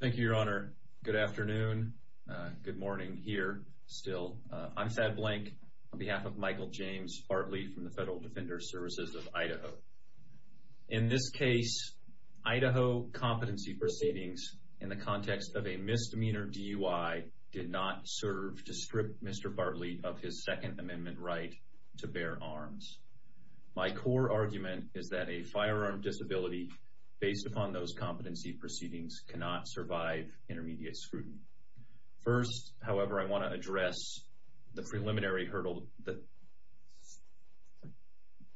Thank you, Your Honor. Good afternoon. Good morning here still. I'm Thad Blank on behalf of Michael James Bartley from the Federal Defender Services of Idaho. In this case, Idaho competency for savings in the context of a misdemeanor DUI did not serve to strip Mr. Bartley of his Second Amendment right to bear arms. My core argument is that a firearm disability based upon those competency proceedings cannot survive intermediate scrutiny. First, however, I want to address the preliminary hurdle.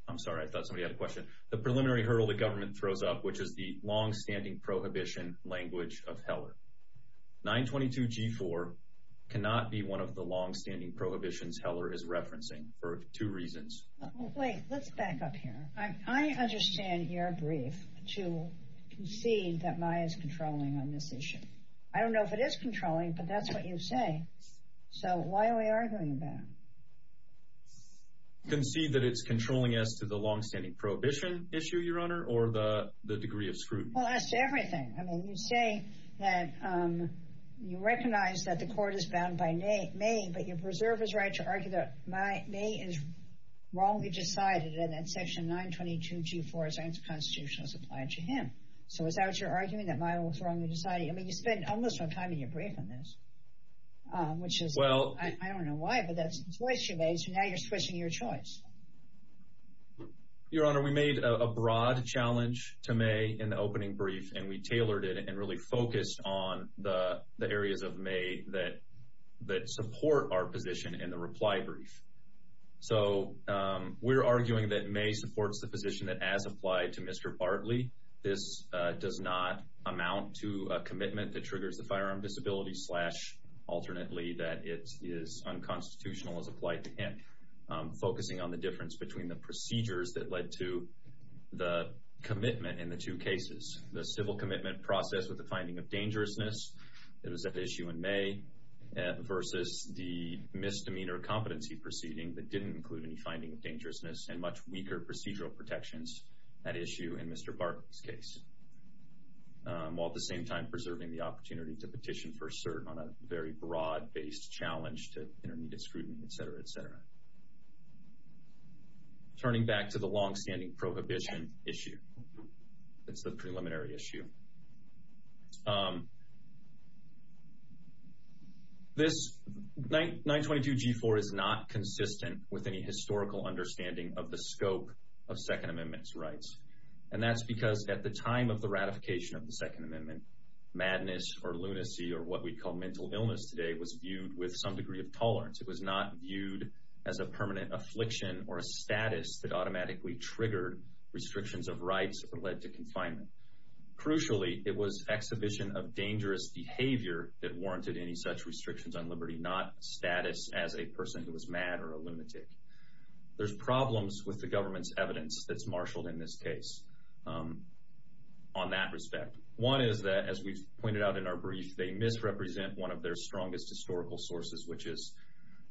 I'm sorry. I thought somebody had a question. The preliminary hurdle the government throws up, which is the longstanding prohibition language of Heller. 922G4 cannot be one of the longstanding prohibitions Heller is referencing for two reasons. Wait, let's back up here. I understand your brief to concede that Maya's controlling on this issue. I don't know if it is controlling, but that's what you say. So why are we arguing about? Concede that it's controlling us to the longstanding prohibition issue, Your Honor, or the degree of scrutiny? Well, that's everything. I mean, you say that you recognize that the court is bound by May, but you preserve his right to argue that Maya is wrongly decided and that Section 922G4 is unconstitutional as applied to him. So is that what you're arguing, that Maya was wrongly decided? I mean, you spent almost all the time in your brief on this, which is, I don't know why, but that's the choice you made, so now you're squishing your choice. Your Honor, we made a broad challenge to May in the opening brief, and we tailored it and really focused on the areas of May that support our position in the reply brief. So we're arguing that May supports the position that as applied to Mr. Bartley, this does not amount to a commitment that triggers the firearm disability slash, alternately, that it is unconstitutional as applied to him, focusing on the difference between the procedures that led to the commitment in the two cases, the civil commitment process with the finding of dangerousness that was at issue in May versus the misdemeanor competency proceeding that didn't include any finding of dangerousness and much weaker procedural protections at issue in Mr. Bartley's case, while at the same time preserving the opportunity to petition for cert on a very broad-based challenge to intermediate scrutiny, et cetera, et cetera. Turning back to the longstanding prohibition issue, it's the preliminary issue. This 922 G4 is not consistent with any historical understanding of the scope of Second Amendment's rights, and that's because at the time of the ratification of the Second Amendment, madness or lunacy or what we call mental illness today was viewed with some degree of tolerance. It was not viewed as a permanent affliction or a status that automatically triggered restrictions of rights or led to confinement. Crucially, it was exhibition of dangerous behavior that warranted any such restrictions on liberty, not status as a person who was mad or a lunatic. There's problems with the government's evidence that's marshaled in this case on that respect. One is that, as we've pointed out in our brief, they misrepresent one of their strongest historical sources, which is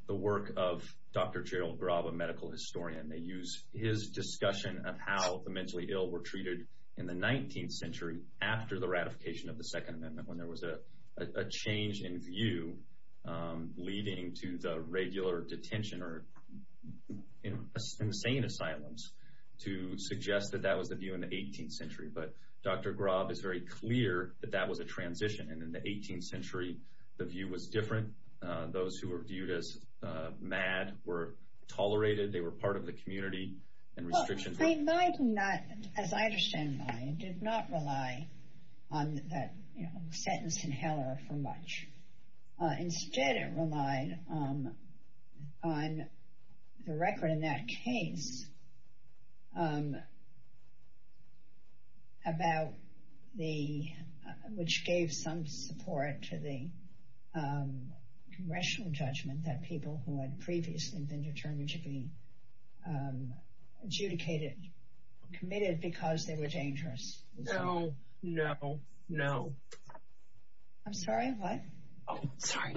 the work of Dr. Gerald Graub, a medical historian. They use his discussion of how the mentally ill were treated in the 19th century after the ratification of the Second Amendment, when there was a change in view leading to the regular detention or insane asylums to suggest that that was the view in the 18th century. But Dr. Graub is very clear that that was a transition, and in the 18th century, the view was different. Those who were viewed as mad were tolerated. They were part of the community and restrictions were... Well, as I understand, it did not rely on that sentence in Heller for much. Instead, it relied on the record in that case about the... which gave some support to the congressional judgment that people who had previously been determined to be adjudicated, committed because they were dangerous. No, no, no. I'm sorry, what? Oh, sorry.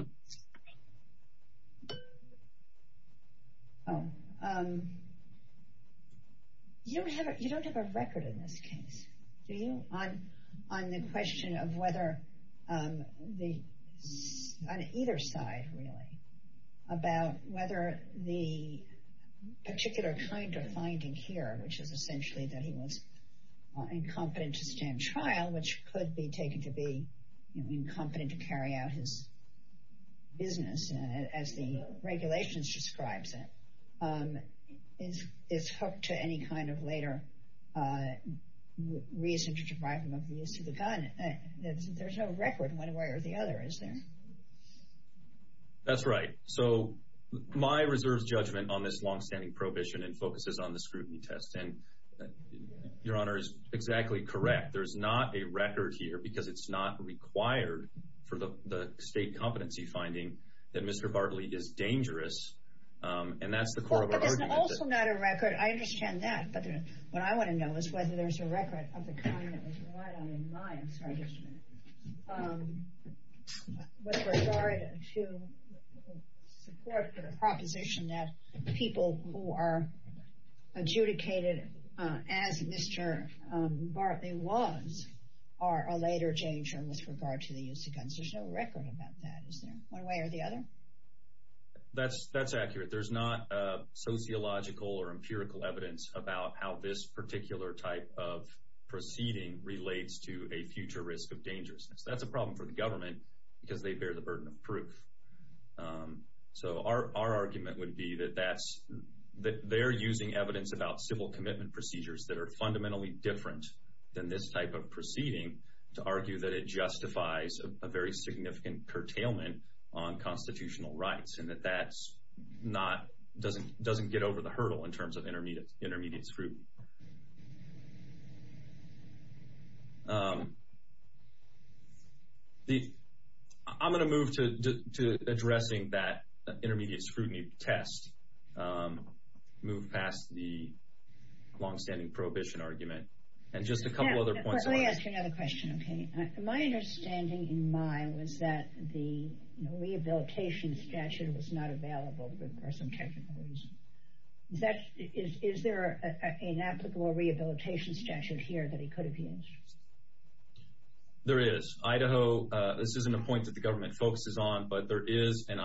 You don't have a record in this case, do you, on the question of whether the... on either side, really, about whether the particular kind of finding here, which is essentially that he was incompetent to stand trial, which could be taken to be incompetent to carry out his business, as the regulations describes it, is hooked to any kind of later reason to deprive him of the use of the gun. There's no record one way or the other, is there? That's right. So my reserve's judgment on this longstanding prohibition focuses on the scrutiny test, and Your Honor is exactly correct. There's not a record here because it's not required for the state competency finding that Mr. Bartley is dangerous, and that's the core of our argument. But there's also not a record. I understand that, but what I want to know is whether there's a record of the kind that was relied on in my... I'm sorry, just a minute... with regard to support for the proposition that people who are adjudicated as Mr. Bartley was are a later danger with regard to the use of guns. There's no record about that, is there, one way or the other? That's accurate. There's not sociological or empirical evidence about how this particular type of proceeding relates to a future risk of dangerousness. That's a problem for the government because they bear the burden of proof. So our argument would be that they're using evidence about civil commitment procedures that are fundamentally different than this type of proceeding to argue that it justifies a very significant curtailment on constitutional rights, and that that doesn't get over the hurdle in terms of intermediate scrutiny. I'm going to move to addressing that intermediate scrutiny test, move past the longstanding prohibition argument, and just a couple other points... Let me ask you another question. My understanding in my was that the rehabilitation statute was not available for some technical reasons. Is there an applicable rehabilitation statute here that he could have used? There is. Idaho... this isn't a point that the government focuses on, but there is an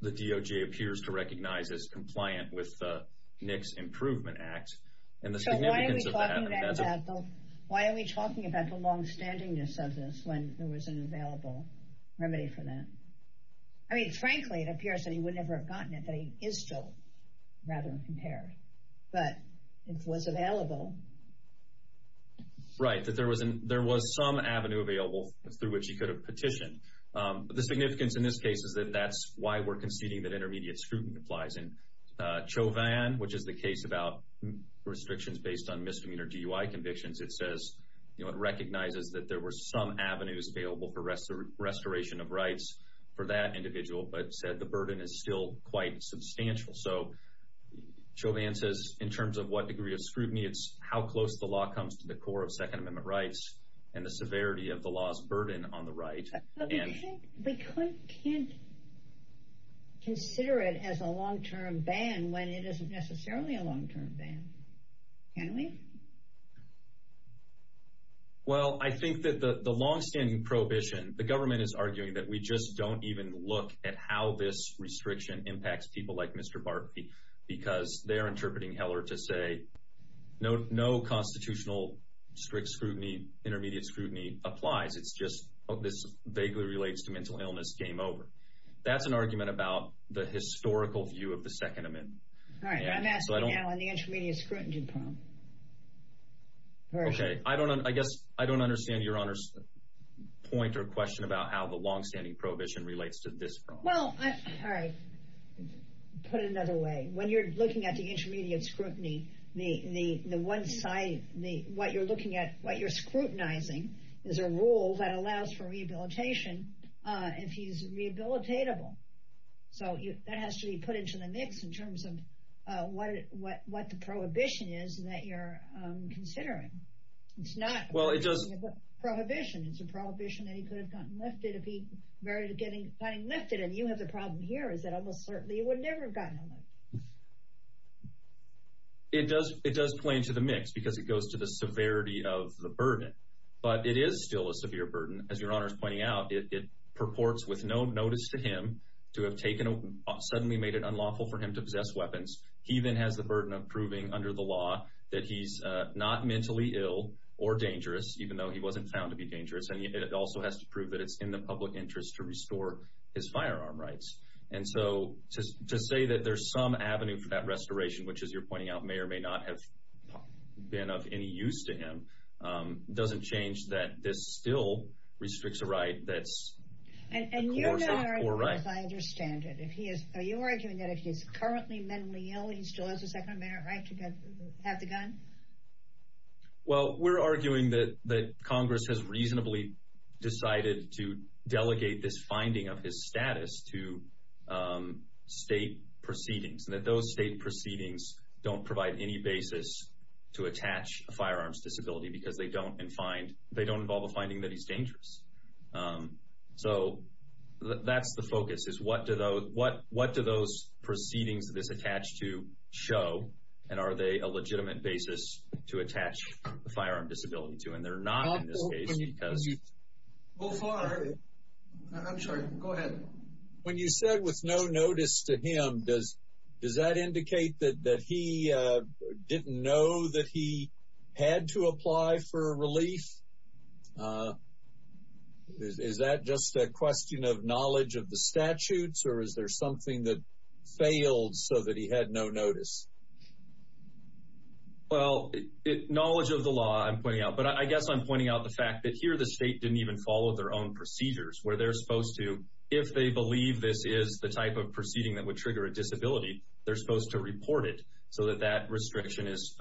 that DOJ appears to recognize as compliant with the NICS Improvement Act, and the significance of that... So why are we talking about the longstandingness of this when there was an available remedy for that? I mean, frankly, it appears that he would never have gotten it, that he is still rather impaired, but it was available. Right, that there was some avenue available through which he could have petitioned. The significance in this case is that that's why we're conceding that intermediate scrutiny applies. And Chauvin, which is the case about restrictions based on misdemeanor DUI convictions, it says, you know, it recognizes that there were some avenues available for restoration of rights for that individual, but said the burden is still quite substantial. So Chauvin says, in terms of what degree of scrutiny, it's how close the law comes to the core of Second Amendment rights and the severity of the law's burden on the right. But we can't consider it as a long-term ban when it isn't necessarily a long-term ban. Can we? Well, I think that the longstanding prohibition, the government is arguing that we just don't even look at how this restriction impacts people like Mr. Bartley, because they are interpreting Heller to say no constitutional strict scrutiny, intermediate scrutiny applies. It's just, oh, this vaguely relates to mental illness, game over. That's an argument about the historical view of the Second Amendment. All right, I'm asking now on the intermediate scrutiny problem. Okay, I guess I don't understand Your Honor's point or question about how the longstanding prohibition relates to this problem. Well, all right, put it another way. When you're looking at the intermediate scrutiny, the one side, what you're scrutinizing is a rule that allows for rehabilitation if he's rehabilitatable. So that has to be put into the mix in terms of what the prohibition is that you're considering. It's not a prohibition, it's a prohibition that he could have gotten lifted if he were getting lifted. And you have the problem here is that almost certainly he would never have gotten lifted. It does play into the mix because it goes to the severity of the burden. But it is still a severe burden. As Your Honor's pointing out, it purports with no notice to him to have suddenly made it unlawful for him to possess weapons. He then has the burden of proving under the law that he's not mentally ill or dangerous, even though he wasn't found to be dangerous. And it also has to prove that it's in the public interest to restore his firearm rights. And so to say that there's some avenue for that restoration, which as you're pointing out may or may not have been of any use to him, doesn't change that this still restricts a right that's coercive or right. And you're arguing, as I understand it, are you arguing that if he's currently mentally ill, he still has a second right to have the gun? Well, we're arguing that Congress has reasonably decided to delegate this finding of his status to state proceedings, and that those state proceedings don't provide any basis to attach a firearm's disability because they don't involve a finding that he's dangerous. So that's the focus, is what do those proceedings that it's attached to show, and are they a legitimate basis to attach a firearm disability to? When you said with no notice to him, does that indicate that he didn't know that he had to apply for relief? Is that just a question of knowledge of the statutes, or is there something that failed so that he had no notice? Well, knowledge of the law, I'm pointing out, but I guess I'm pointing out the fact that here the state didn't even follow their own procedures, where they're supposed to, if they believe this is the type of proceeding that would trigger a disability, they're supposed to report it so that that restriction is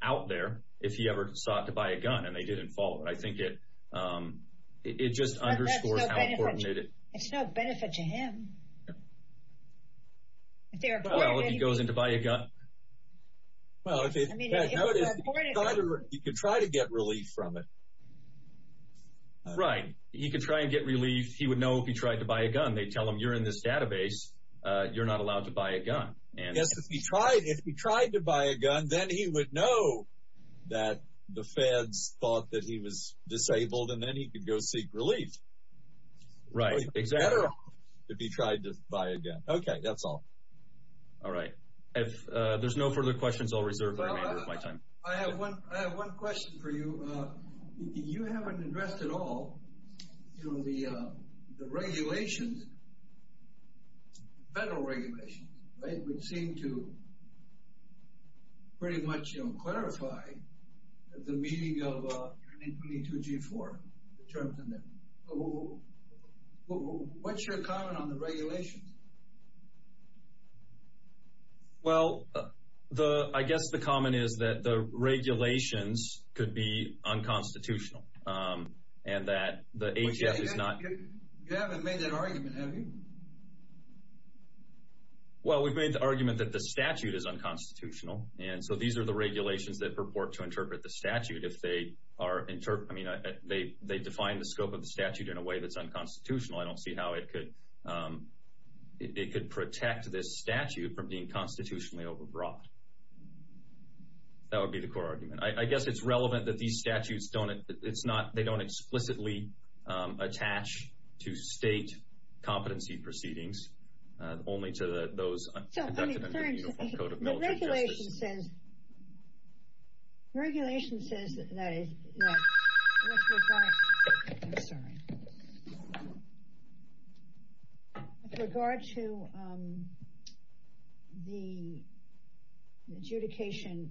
out there, if he ever sought to buy a gun, and they didn't follow it. I think it just underscores how coordinated... But that's no benefit to him. Well, if he goes in to buy a gun? Well, if he goes in to buy a gun, he could try to get relief from it. Right, he could try and get relief. He would know if he tried to buy a gun. They'd tell him, you're in this database, you're not allowed to buy a gun. Yes, if he tried to buy a gun, then he would know that the feds thought that he was disabled, and then he could go seek relief. Right, exactly. If he tried to buy a gun. Okay, that's all. All right. If there's no further questions, I'll reserve the remainder of my time. I have one question for you. You haven't addressed at all the regulations, federal regulations, which seem to pretty much clarify the meaning of NIN 22-G4, the terms in there. What's your comment on the regulations? Well, I guess the comment is that the regulations could be unconstitutional, and that the HF is not... Well, we've made the argument that the statute is unconstitutional, and so these are the regulations that purport to interpret the statute. They define the scope of the statute in a way that's unconstitutional. I don't see how it could protect this statute from being constitutionally overbrought. That would be the core argument. I guess it's relevant that these statutes don't explicitly attach to state competency proceedings, only to those conducted under the Uniform Code of Military Justice. The regulation says that with regard to the adjudication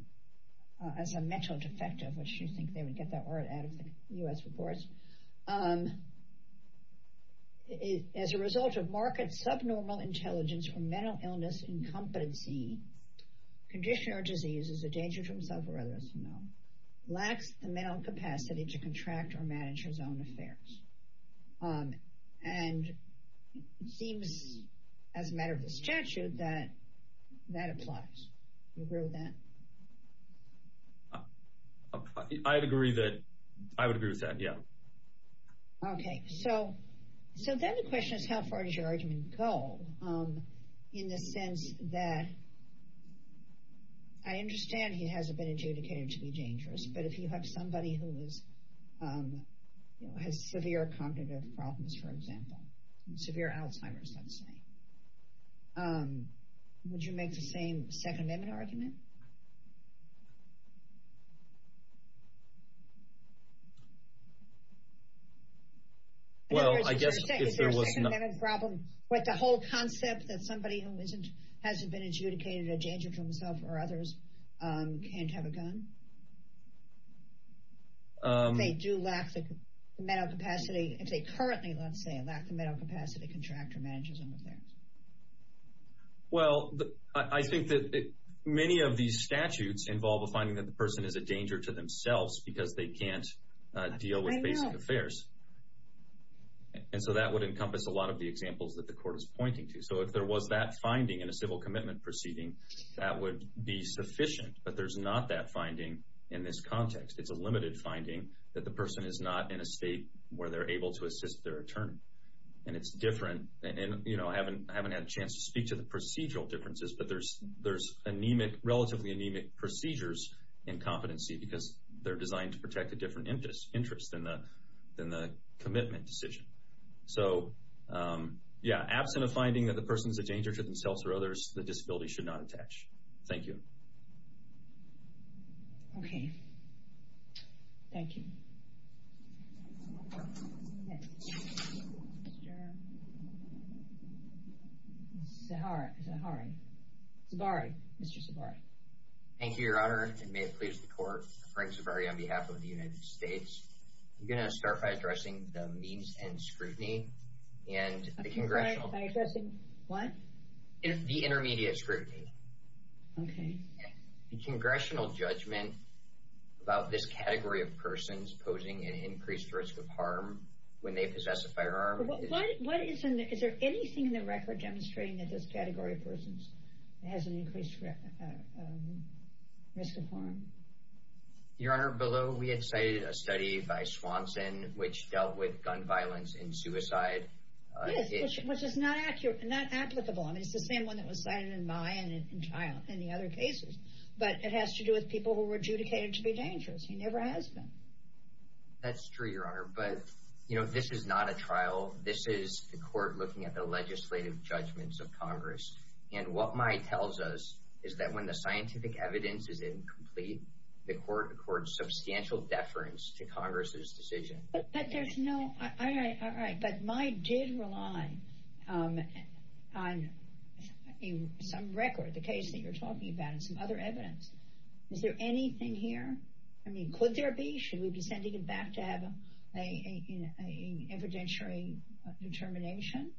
as a mental defective, which you think they would get that word out of the U.S. reports, as a result of marked subnormal intelligence or mental illness in competency, condition or disease is a danger to himself or others, lacks the mental capacity to contract or manage his own affairs. And it seems, as a matter of the statute, that that applies. Do you agree with that? I agree that I would agree with that, yeah. Okay, so then the question is how far does your argument go, in the sense that I understand he hasn't been adjudicated to be dangerous, but if you have somebody who has severe cognitive problems, for example, severe Alzheimer's, let's say, would you make the same Second Amendment argument? Well, I guess if there was... Is there a Second Amendment problem with the whole concept that somebody who hasn't been adjudicated a danger to himself or others can't have a gun? If they do lack the mental capacity, if they currently, let's say, lack the mental capacity to contract or manage his own affairs? Well, I think that many of these statutes involve a finding that the person is a danger to themselves because they can't deal with basic affairs. And so that would encompass a lot of the examples that the Court is pointing to. So if there was that finding in a civil commitment proceeding, that would be sufficient, but there's not that finding in this context. It's a limited finding that the person is not in a state where they're able to assist their attorney. And it's different. I haven't had a chance to speak to the procedural differences, but there's relatively anemic procedures in competency because they're designed to protect a different interest than the commitment decision. So, yeah, absent a finding that the person's a danger to themselves or others, the disability should not attach. Thank you. Okay. Thank you. Okay. Mr.... Zahari. Zahari. Mr. Zahari. Thank you, Your Honor, and may it please the Court, Frank Zahari on behalf of the United States. I'm going to start by addressing the means and scrutiny, and the congressional... By addressing what? The intermediate scrutiny. Okay. The congressional judgment about this category of persons posing an increased risk of harm when they possess a firearm. What is in the... Is there anything in the record demonstrating that this category of persons has an increased risk of harm? Your Honor, below, we had cited a study by Swanson which dealt with gun violence and suicide. Yes, which is not applicable. I mean, it's the same one that was cited in my and in the other cases. But it has to do with people who were adjudicated to be dangerous. He never has been. That's true, Your Honor. But, you know, this is not a trial. This is the Court looking at the legislative judgments of Congress. And what my tells us is that when the scientific evidence is incomplete, the Court accords substantial deference to Congress's decision. But there's no... All right, all right. But my did rely on some record, the case that you're talking about, and some other evidence. Is there anything here? I mean, could there be? Should we be sending it back to have an evidentiary determination?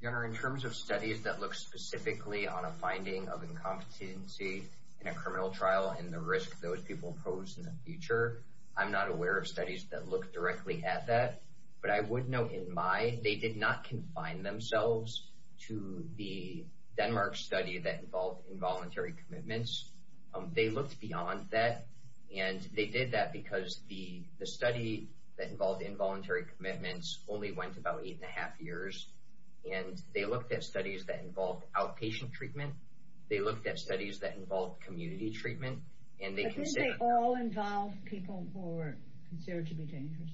Your Honor, in terms of studies that look specifically on a finding of incompetency in a criminal trial and the risk those people pose in the future, I'm not aware of studies that look directly at that. But I would note in my, they did not confine themselves to the Denmark study that involved involuntary commitments. They looked beyond that. And they did that because the study that involved involuntary commitments only went about eight and a half years. And they looked at studies that involved outpatient treatment. They looked at studies that involved community treatment. But didn't they all involve people who were considered to be dangerous?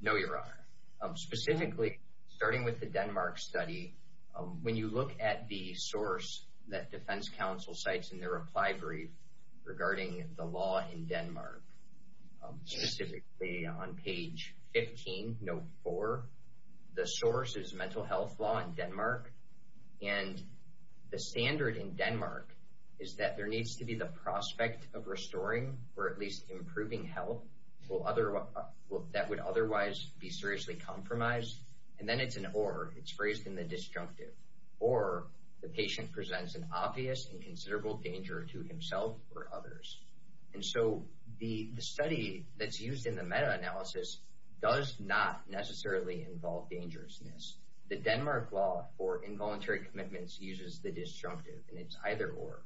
No, Your Honor. Specifically, starting with the Denmark study, when you look at the source that defense counsel cites in their reply brief regarding the law in Denmark, specifically on page 15, note 4, the source is mental health law in Denmark. And the standard in Denmark is that there needs to be the prospect of restoring or at least improving health. That would otherwise be seriously compromised. And then it's an or. It's phrased in the disjunctive. Or the patient presents an obvious and considerable danger to himself or others. And so the study that's used in the meta-analysis does not necessarily involve dangerousness. The Denmark law for involuntary commitments uses the disjunctive, and it's either or.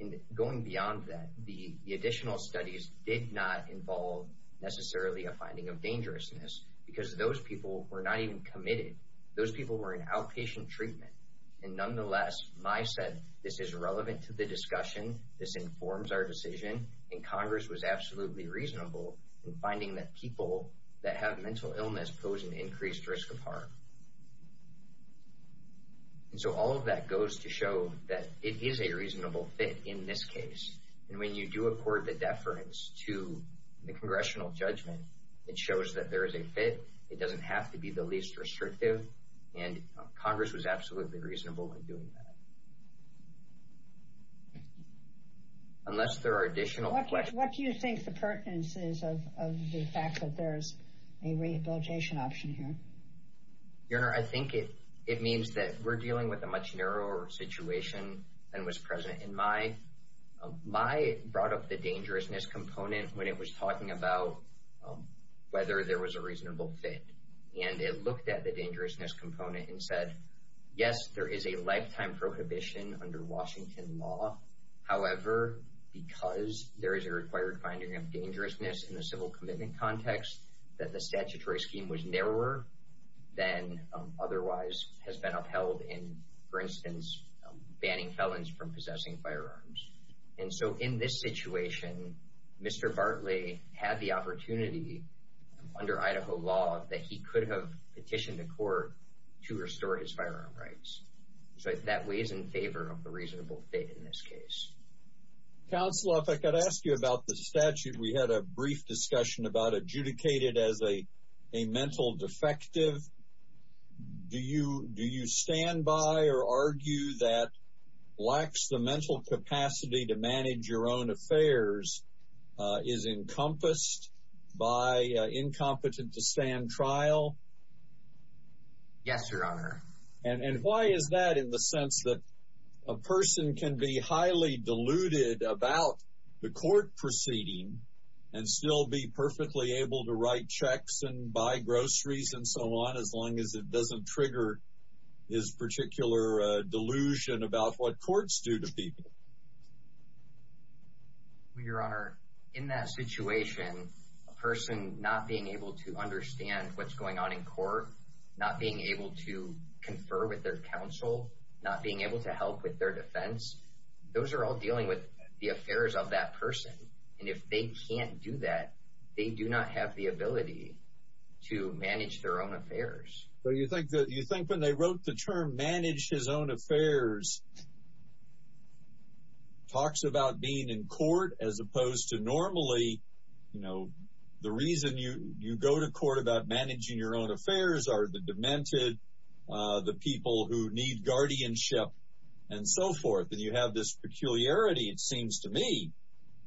And going beyond that, the additional studies did not involve necessarily a finding of dangerousness because those people were not even committed. Those people were in outpatient treatment. And nonetheless, my said, this is relevant to the discussion. This informs our decision. And Congress was absolutely reasonable in finding that people that have mental illness pose an increased risk of harm. And so all of that goes to show that it is a reasonable fit in this case. And when you do accord the deference to the congressional judgment, it shows that there is a fit. It doesn't have to be the least restrictive. And Congress was absolutely reasonable in doing that. Unless there are additional questions. What do you think the pertinence is of the fact that there is a rehabilitation option here? Your Honor, I think it means that we're dealing with a much narrower situation than was present in my brought up the dangerousness component when it was talking about whether there was a reasonable fit. And it looked at the dangerousness component and said, yes, there is a lifetime prohibition under Washington law. However, because there is a required finding of dangerousness in the civil commitment context, that the statutory scheme was narrower than otherwise has been upheld in, for instance, banning felons from possessing firearms. And so in this situation, Mr. Bartley had the opportunity under Idaho law that he could have petitioned the court to restore his firearm rights. So that weighs in favor of the reasonable fit in this case. Counselor, if I could ask you about the statute, we had a brief discussion about adjudicated as a, a mental defective. Do you, do you stand by or argue that lacks the mental capacity to manage your own affairs is encompassed by incompetent to stand trial? Yes, Your Honor. And why is that in the sense that a person can be highly deluded about the matter and still be perfectly able to write checks and buy groceries and so on, as long as it doesn't trigger his particular delusion about what courts do to people? Your Honor, in that situation, a person not being able to understand what's going on in court, not being able to confer with their counsel, not being able to help with their defense. Those are all dealing with the affairs of that person. And if they can't do that, they do not have the ability to manage their own affairs. Well, you think that you think when they wrote the term, manage his own affairs talks about being in court, as opposed to normally, you know, the reason you, you go to court about managing your own affairs are the demented, the people who need guardianship and so forth. And you have this peculiarity. It seems to me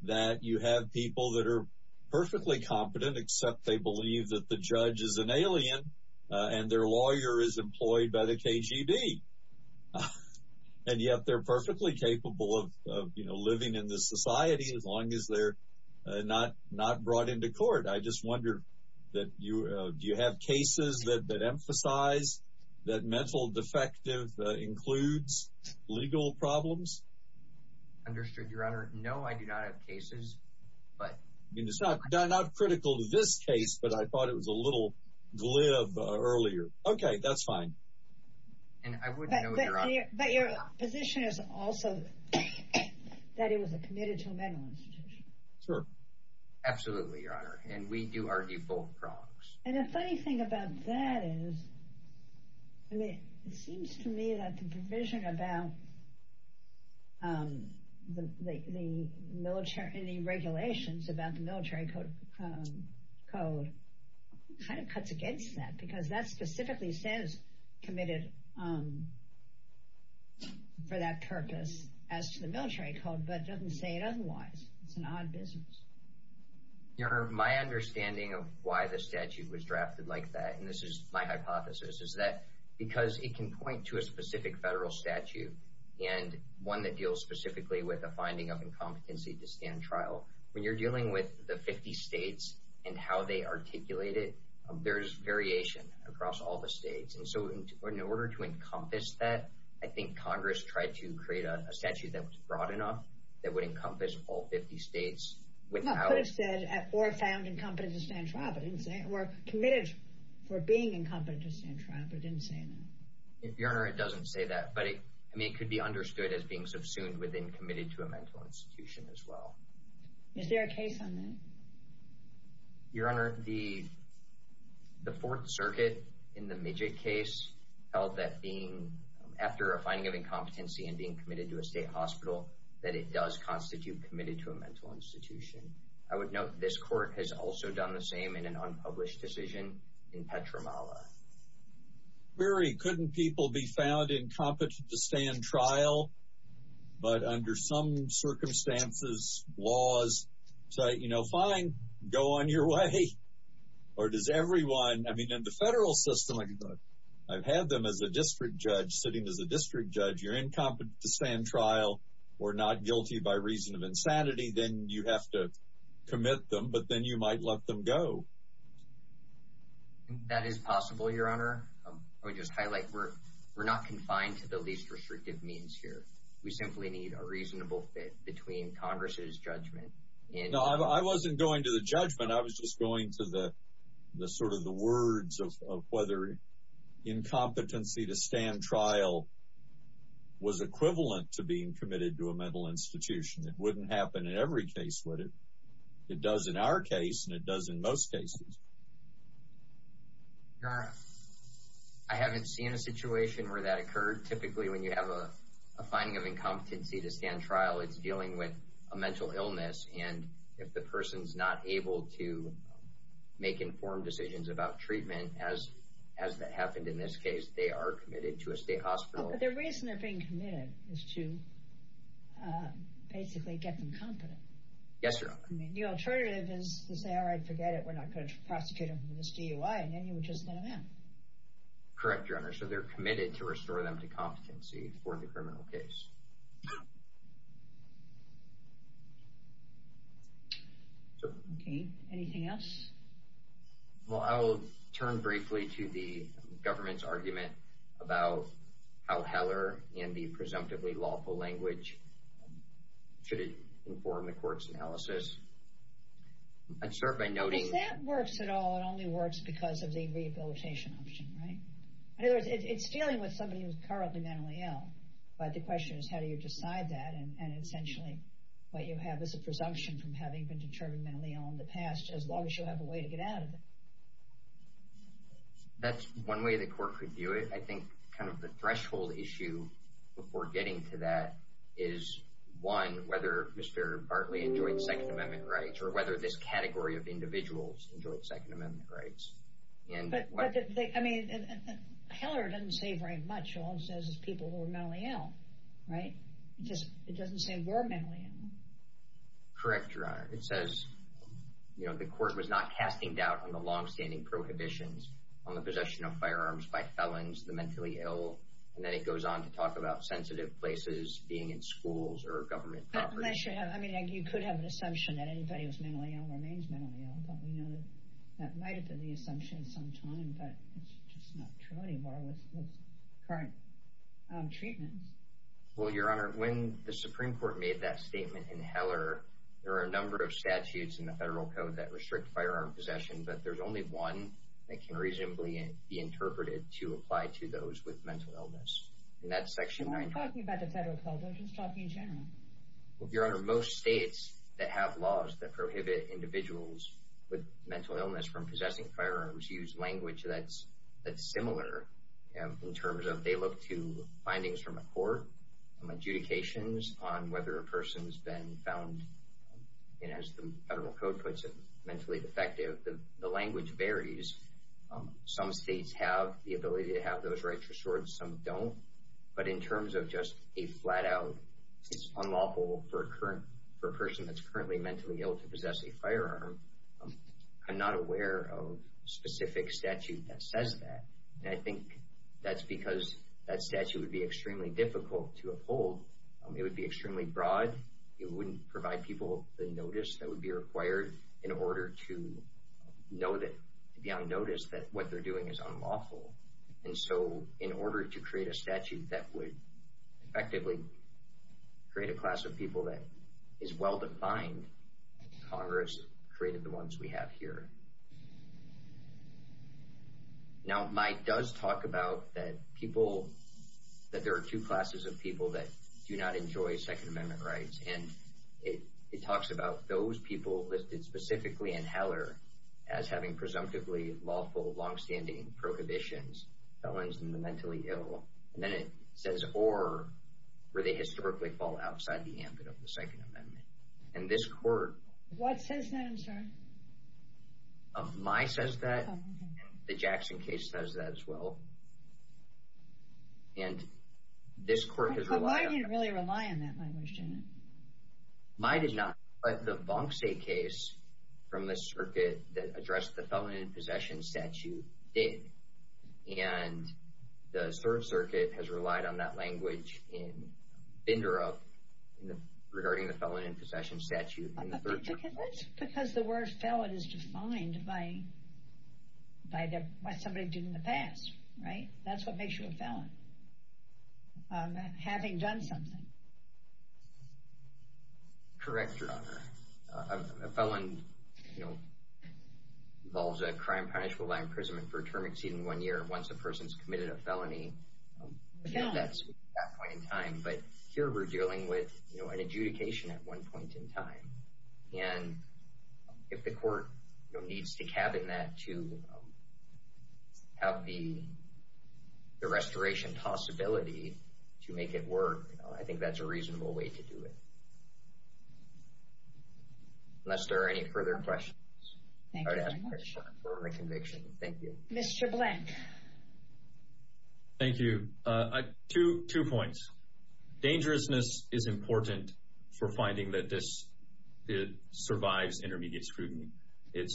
that you have people that are perfectly competent, except they believe that the judge is an alien and their lawyer is employed by the KGB. And yet they're perfectly capable of, you know, living in this society as long as they're not, not brought into court. I just wonder that you, do you have cases that, that emphasize that mental defective includes legal problems? Understood your honor. No, I do not have cases, but it's not critical to this case, but I thought it was a little glib earlier. Okay. That's fine. And I wouldn't know, but your position is also that it was a committed to a mental institution. Sure. Absolutely. Your honor. And we do our default prongs. And the funny thing about that is, I mean, it seems to me that the provision about the, the, the military and the regulations about the military code code kind of cuts against that because that specifically says committed for that purpose as to the military code, but doesn't say it. Otherwise it's an odd business. Your honor. My understanding of why the statute was drafted like that. And this is my hypothesis. Is that because it can point to a specific federal statute and one that deals specifically with a finding of incompetency to stand trial, when you're dealing with the 50 states and how they articulate it, there's variation across all the states. And so in order to encompass that, I think Congress tried to create a statute that was broad enough that would encompass all 50 states. Or found incompetent to stand trial, but didn't say or committed for being incompetent to stand trial, but didn't say that. Your honor. It doesn't say that, but I mean, it could be understood as being subsumed within committed to a mental institution as well. Is there a case on that? Your honor, the, the fourth circuit in the midget case held that being after a finding of incompetency and being committed to a state hospital, that it does constitute committed to a mental institution. I would note this court has also done the same in an unpublished decision in Petromala. Very. Couldn't people be found incompetent to stand trial, but under some circumstances, laws say, you know, fine, go on your way. Or does everyone, I mean, in the federal system, I've had them as a district judge sitting as a district judge, you're incompetent to stand trial. We're not guilty by reason of insanity. Then you have to commit them, but then you might let them go. That is possible. Your honor. I would just highlight we're, we're not confined to the least restrictive means here. We simply need a reasonable fit between Congress's judgment. I wasn't going to the judgment. I was just going to the, the sort of the words of, of whether incompetency to stand trial was equivalent to being committed to a mental institution. It wouldn't happen in every case with it. It does in our case. And it does in most cases. Your honor. I haven't seen a situation where that occurred. Typically when you have a finding of incompetency to stand trial, it's dealing with a mental illness. And if the person's not able to make informed decisions about treatment, as, as that happened in this case, they are committed to a state hospital. The reason they're being committed is to basically get them competent. Yes, your honor. The alternative is to say, all right, forget it. We're not going to prosecute them for this DUI. And then you would just let them in. Correct, your honor. So they're committed to restore them to competency for the criminal case. Okay. Anything else? Well, I'll turn briefly to the government's argument about how Heller and the presumptively lawful language should inform the court's analysis. I'd start by noting- If that works at all, it only works because of the rehabilitation option. Right? In other words, it's dealing with somebody who's currently mentally ill. But the question is, how do you decide that? And essentially what you have is a presumption from having been determined to be mentally ill in the past, as long as you have a way to get out of it. That's one way the court could do it. I think kind of the threshold issue before getting to that is, one, whether Mr. Bartley enjoyed Second Amendment rights or whether this category of individuals enjoyed Second Amendment rights. I mean, Heller doesn't say very much. All he says is people who are mentally ill. Right? It doesn't say we're mentally ill. Correct, Your Honor. It says the court was not casting doubt on the longstanding prohibitions on the possession of firearms by felons, the mentally ill. And then it goes on to talk about sensitive places being in schools or government properties. I mean, you could have an assumption that anybody who's mentally ill remains mentally ill. Don't we know that that might have been the assumption some time, but it's just not true anymore with current treatments. Well, Your Honor, when the Supreme Court made that statement in Heller, there are a number of statutes in the Federal Code that restrict firearm possession, but there's only one that can reasonably be interpreted to apply to those with mental illness. And that's Section 19. We're not talking about the Federal Code. We're just talking in general. Your Honor, most states that have laws that prohibit individuals with mental illness from possessing firearms use language that's similar in terms of how they look to findings from a court, adjudications on whether a person's been found, and as the Federal Code puts it, mentally defective. The language varies. Some states have the ability to have those rights restored and some don't. But in terms of just a flat-out it's unlawful for a person that's currently mentally ill to possess a firearm, I'm not aware of a specific statute that says that. And I think that's because that statute would be extremely difficult to uphold. It would be extremely broad. It wouldn't provide people the notice that would be required in order to be on notice that what they're doing is unlawful. And so in order to create a statute that would effectively create a class of people that is well-defined, Congress created the ones we have here. Now, Mike does talk about that there are two classes of people that do not enjoy Second Amendment rights. And it talks about those people listed specifically in Heller as having presumptively lawful, long-standing prohibitions, felons in the mentally ill. And then it says, or, where they historically fall outside the ambit of the Second Amendment. And this court... What says that, I'm sorry? My says that. The Jackson case says that as well. And this court has relied on... But why do you really rely on that language, Janet? My did not. But the Bonk State case from the circuit that addressed the felon in possession statute did. And the third circuit has relied on that language in Binderup regarding the felon in possession statute. That's because the word felon is defined by what somebody did in the past, right? That's what makes you a felon. Having done something. Correct, Your Honor. A felon involves a crime punishable by imprisonment for a term exceeding one year. Once a person's committed a felony, that's at that point in time. But here we're dealing with an adjudication at one point in time. And if the court needs to cabinet to have the restoration possibility to make it work, I think that's a reasonable way to do it. Unless there are any further questions. Thank you very much. Mr. Blank. Thank you. Two points. Dangerousness is important for finding that this survives intermediate scrutiny. It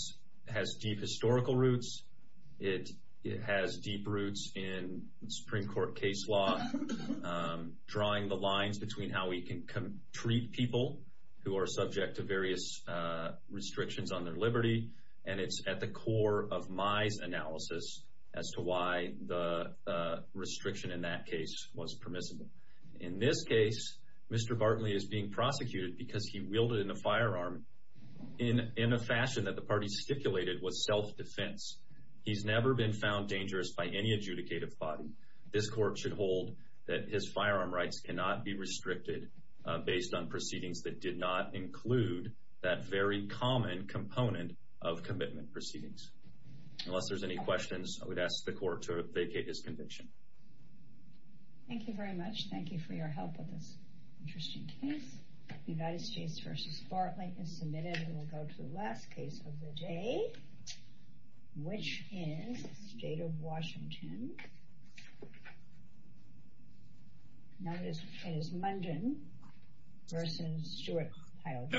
has deep historical roots. It has deep roots in Supreme Court case law. Drawing the lines between how we can treat people who are subject to various restrictions on their liberty. And it's at the core of Mai's analysis as to why the restriction in that case was permissible. In this case, Mr. Bartley is being prosecuted because he wielded a firearm in a fashion that the party stipulated was self-defense. He's never been found dangerous by any adjudicative body. This court should hold that his firearm rights cannot be restricted based on proceedings that did not include that very common component of commitment proceedings. Unless there's any questions, I would ask the court to vacate this convention. Thank you very much. Thank you for your help with this interesting case. United States v. Bartley is submitted. And then we'll go to the last case of the day. Which is the state of Washington. Known as Munden v. Stewart-Pyle.